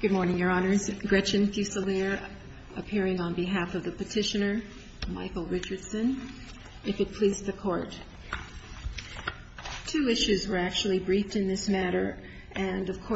Good morning, Your Honors. Gretchen Fusilier appearing on behalf of the petitioner, Michael Richardson, if it please the Court. Two issues were actually briefed in this matter, and attempted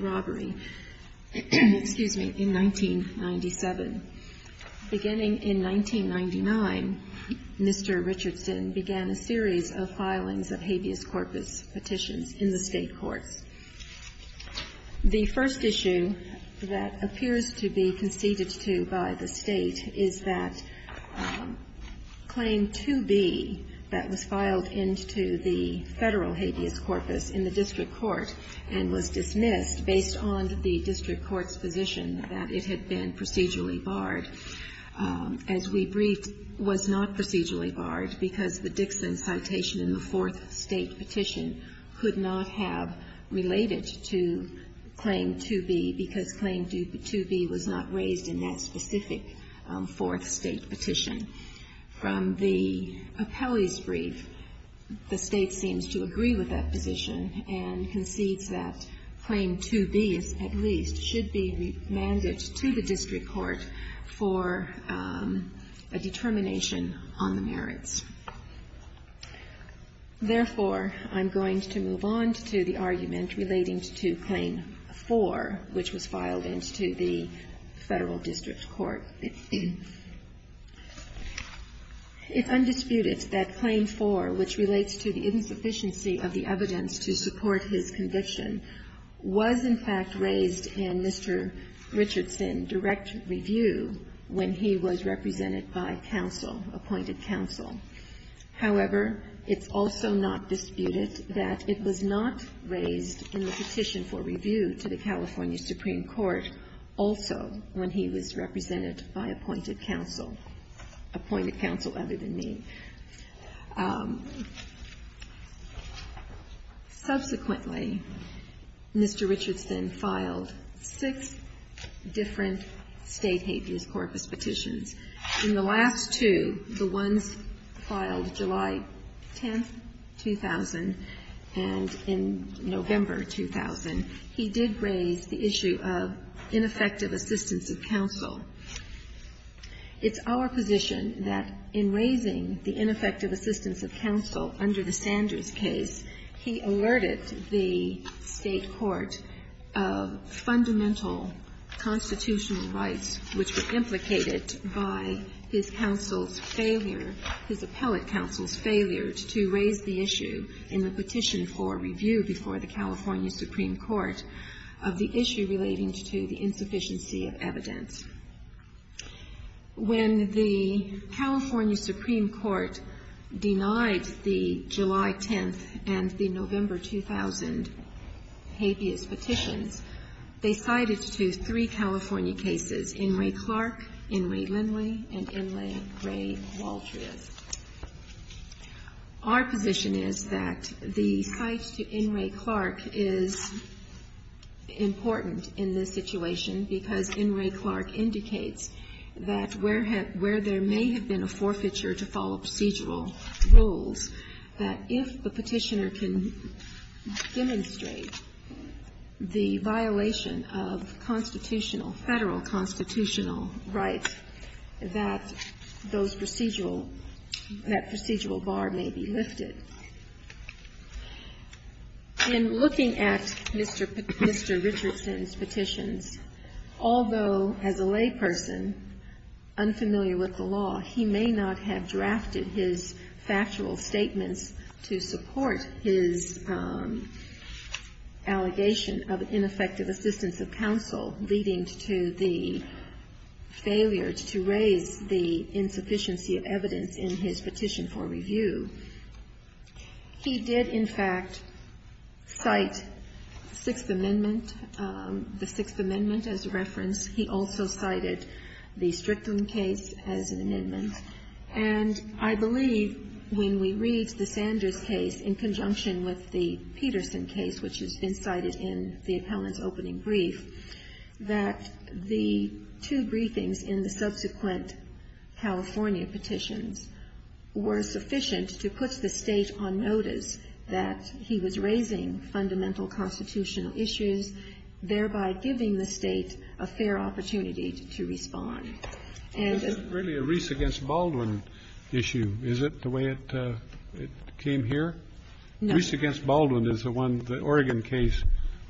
robbery in 1997. Beginning in 1999, Mr. Richardson began a series of filings of habeas corpus petitions in the state courts. The first issue that appears to be conceded to by the state is that Claim 2B that was filed into the federal habeas corpus in the state courts and was dismissed based on the district court's position that it had been procedurally barred. As we briefed, it was not procedurally barred because the Dixon citation in the fourth state petition could not have related to Claim 2B because Claim 2B was not raised in that specific fourth state petition. From the Popelli's brief, the state seems to agree with that position and concedes that Claim 2B, at least, should be remanded to the district court for a determination on the merits. Therefore, I'm going to move on to the argument relating to Claim 4, which was filed into the federal district court. It's undisputed that Claim 4, which relates to the insufficiency of the evidence to support his conviction, was in fact raised in Mr. Richardson's direct review when he was represented by counsel, appointed counsel. However, it's also not disputed that it was not raised in the petition for review to the California Supreme Court also when he was represented by appointed counsel, appointed counsel other than me. Subsequently, Mr. Richardson filed six different state habeas corpus petitions. In the last two, the ones filed July 10, 2000, and in November, 2000, he did raise the issue of ineffective assistance of counsel. It's our position that in raising the ineffective assistance of counsel under the Sanders case, he alerted the State court of fundamental constitutional rights which were implicated by his counsel's failure, his appellate counsel's failure to raise the issue in the petition for review before the California Supreme Court of the issue relating to the insufficiency of evidence. When the California Supreme Court denied the July 10th and the November 2000 habeas corpus petitions, they cited to three California cases, Inouye Clark, Inouye Lindley, and Inouye Ray Waltrius. Our position is that the cite to Inouye Clark is important in this situation because Inouye Clark indicates that where there may have been a forfeiture to follow procedural rules, that if the Petitioner can demonstrate that the Petitioner can demonstrate the violation of constitutional, Federal constitutional rights, that those procedural, that procedural bar may be lifted. In looking at Mr. Richardson's petitions, although as a lay person unfamiliar with the law, he may not have drafted his factual statements to support his allegation of ineffective assistance of counsel leading to the failure to raise the insufficiency of evidence in his petition for review, he did in fact cite Sixth Amendment, the Sixth Amendment as a reference. He also cited the Strickland case as an amendment. And I believe when we read the Sanders case in conjunction with the Peterson case, which has been cited in the appellant's opening brief, that the two briefings in the subsequent California petitions were sufficient to put the State on notice that he was raising fundamental constitutional issues, thereby giving the State a fair And the ---- Kennedy. Is this really a Reese against Baldwin issue? Is it the way it came here? Reese against Baldwin is the one, the Oregon case,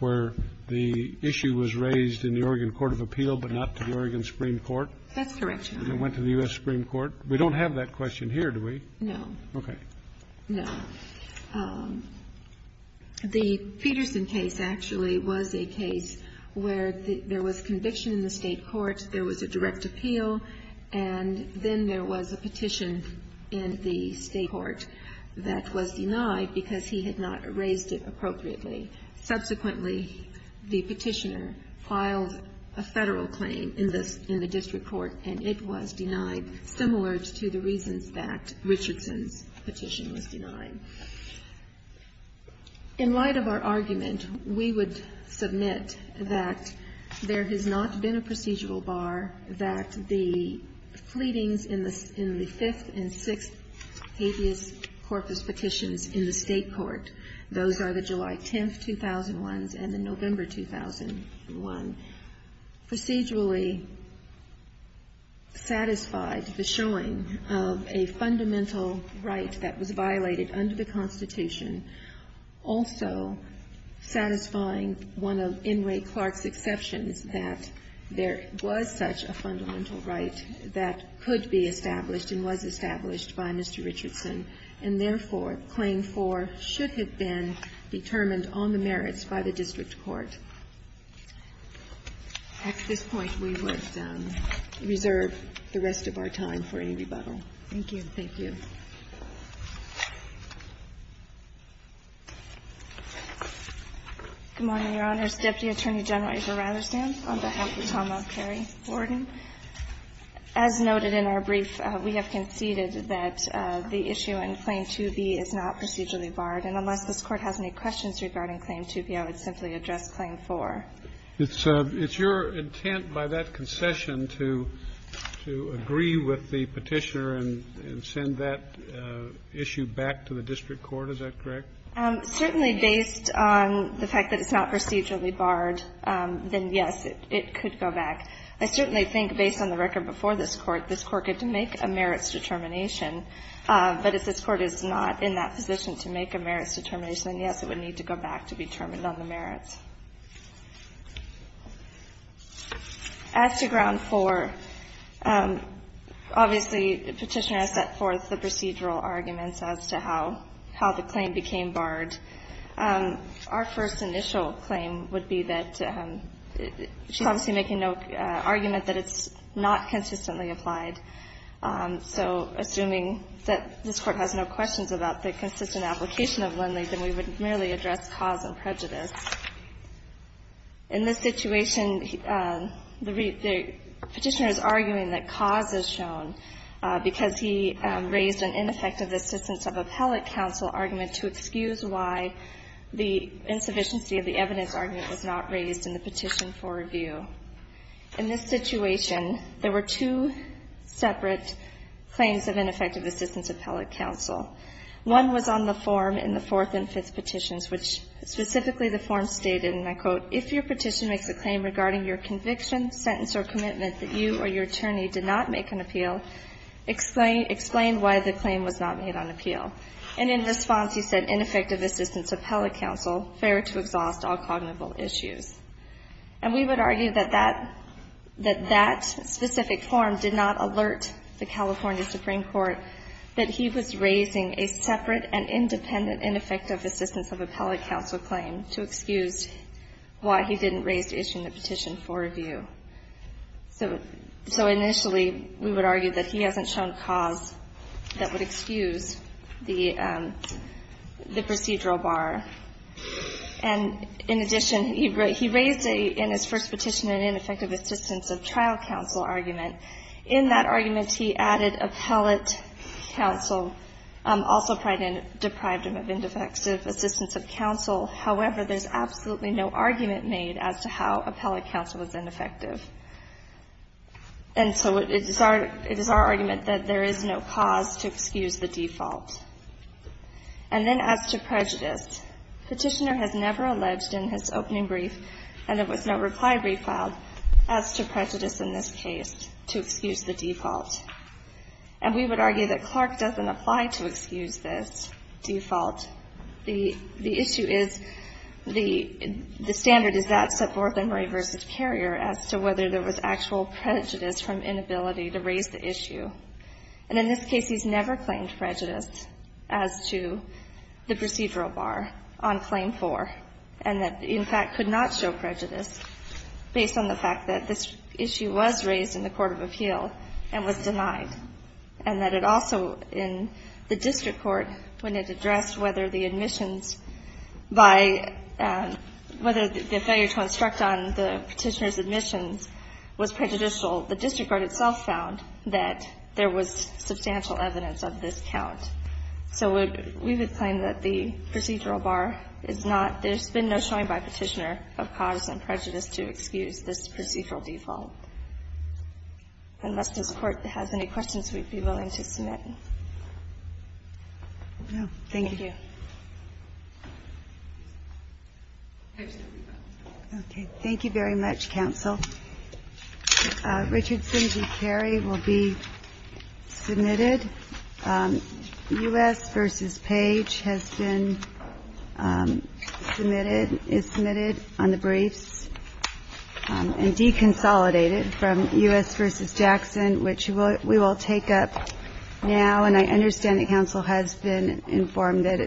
where the issue was raised in the Oregon Court of Appeal but not to the Oregon Supreme Court? That's correct, Your Honor. It went to the U.S. Supreme Court. We don't have that question here, do we? No. Okay. No. The Peterson case actually was a case where there was conviction in the State court, there was a direct appeal, and then there was a petition in the State court that was denied because he had not raised it appropriately. Subsequently, the petitioner filed a Federal claim in the district court, and it was denied, similar to the reasons that Richardson's petition was denied. In light of our argument, we would submit that there has not been a procedural bar that the pleadings in the fifth and sixth habeas corpus petitions in the State court, those are the July 10th, 2001, and the November 2001, procedurally satisfied the showing of a fundamental right that was violated under the Constitution, also satisfying one of N. Ray Clark's exceptions, that there was a constitutional right that was such a fundamental right that could be established and was established by Mr. Richardson, and therefore, Claim 4 should have been determined on the merits by the district court. At this point, we would reserve the rest of our time for any Thank you. Thank you. Good morning, Your Honors. Deputy Attorney General Israel Ratherstand, on behalf of Tom O'Kerry, Wharton. As noted in our brief, we have conceded that the issue in Claim 2B is not procedurally barred, and unless this Court has any questions regarding Claim 2B, I would simply address Claim 4. It's your intent by that concession to agree with the petitioner and send that petition issue back to the district court. Is that correct? Certainly, based on the fact that it's not procedurally barred, then, yes, it could go back. I certainly think, based on the record before this Court, this Court could make a merits determination. But if this Court is not in that position to make a merits determination, then, yes, it would need to go back to be determined on the merits. As to Ground 4, obviously, the petitioner has set forth the procedural arguments as to how the claim became barred. Our first initial claim would be that she's obviously making no argument that it's not consistently applied. So assuming that this Court has no questions about the consistent application of Lindley, then we would merely address cause and prejudice. In this situation, the petitioner is arguing that cause is shown because he raised an ineffective assistance of appellate counsel argument to excuse why the insufficiency of the evidence argument was not raised in the petition for review. In this situation, there were two separate claims of ineffective assistance of appellate counsel. One was on the form in the Fourth and Fifth Petitions, which specifically the form stated, and I quote, If your petition makes a claim regarding your conviction, sentence, or commitment that you or your attorney did not make an appeal, explain why the claim was not made on appeal. And in response, he said, ineffective assistance of appellate counsel, fair to exhaust all cognitive issues. And we would argue that that specific form did not alert the California Supreme Court that he was raising a separate and independent ineffective assistance of appellate counsel claim to excuse why he didn't raise the issue in the petition for review. So initially, we would argue that he hasn't shown cause that would excuse the procedural bar. And in addition, he raised in his first petition an ineffective assistance of trial counsel argument. In that argument, he added appellate counsel, also deprived him of ineffective assistance of counsel. However, there's absolutely no argument made as to how appellate counsel is ineffective. And so it is our argument that there is no cause to excuse the default. And then as to prejudice, Petitioner has never alleged in his opening brief, and there was no reply refiled, as to prejudice in this case, to excuse the default. And we would argue that Clark doesn't apply to excuse this default. The issue is the standard is that set forth in Ray v. Carrier as to whether there was actual prejudice from inability to raise the issue. And in this case, he's never claimed prejudice as to the procedural bar on claim four. And that, in fact, could not show prejudice based on the fact that this issue was raised in the court of appeal and was denied. And that it also, in the district court, when it addressed whether the admissions by the failure to instruct on the petitioner's admissions was prejudicial, the district court itself found that there was substantial evidence of this count. So we would claim that the procedural bar is not – there's been no showing by Petitioner of cause and prejudice to excuse this procedural default. Unless this Court has any questions, we'd be willing to submit. Thank you. Okay. Thank you very much, counsel. Richardson v. Carrier will be submitted. U.S. v. Page has been submitted – is submitted on the briefs and deconsolidated from U.S. v. Jackson, which we will take up now. And I understand that counsel has been informed that it –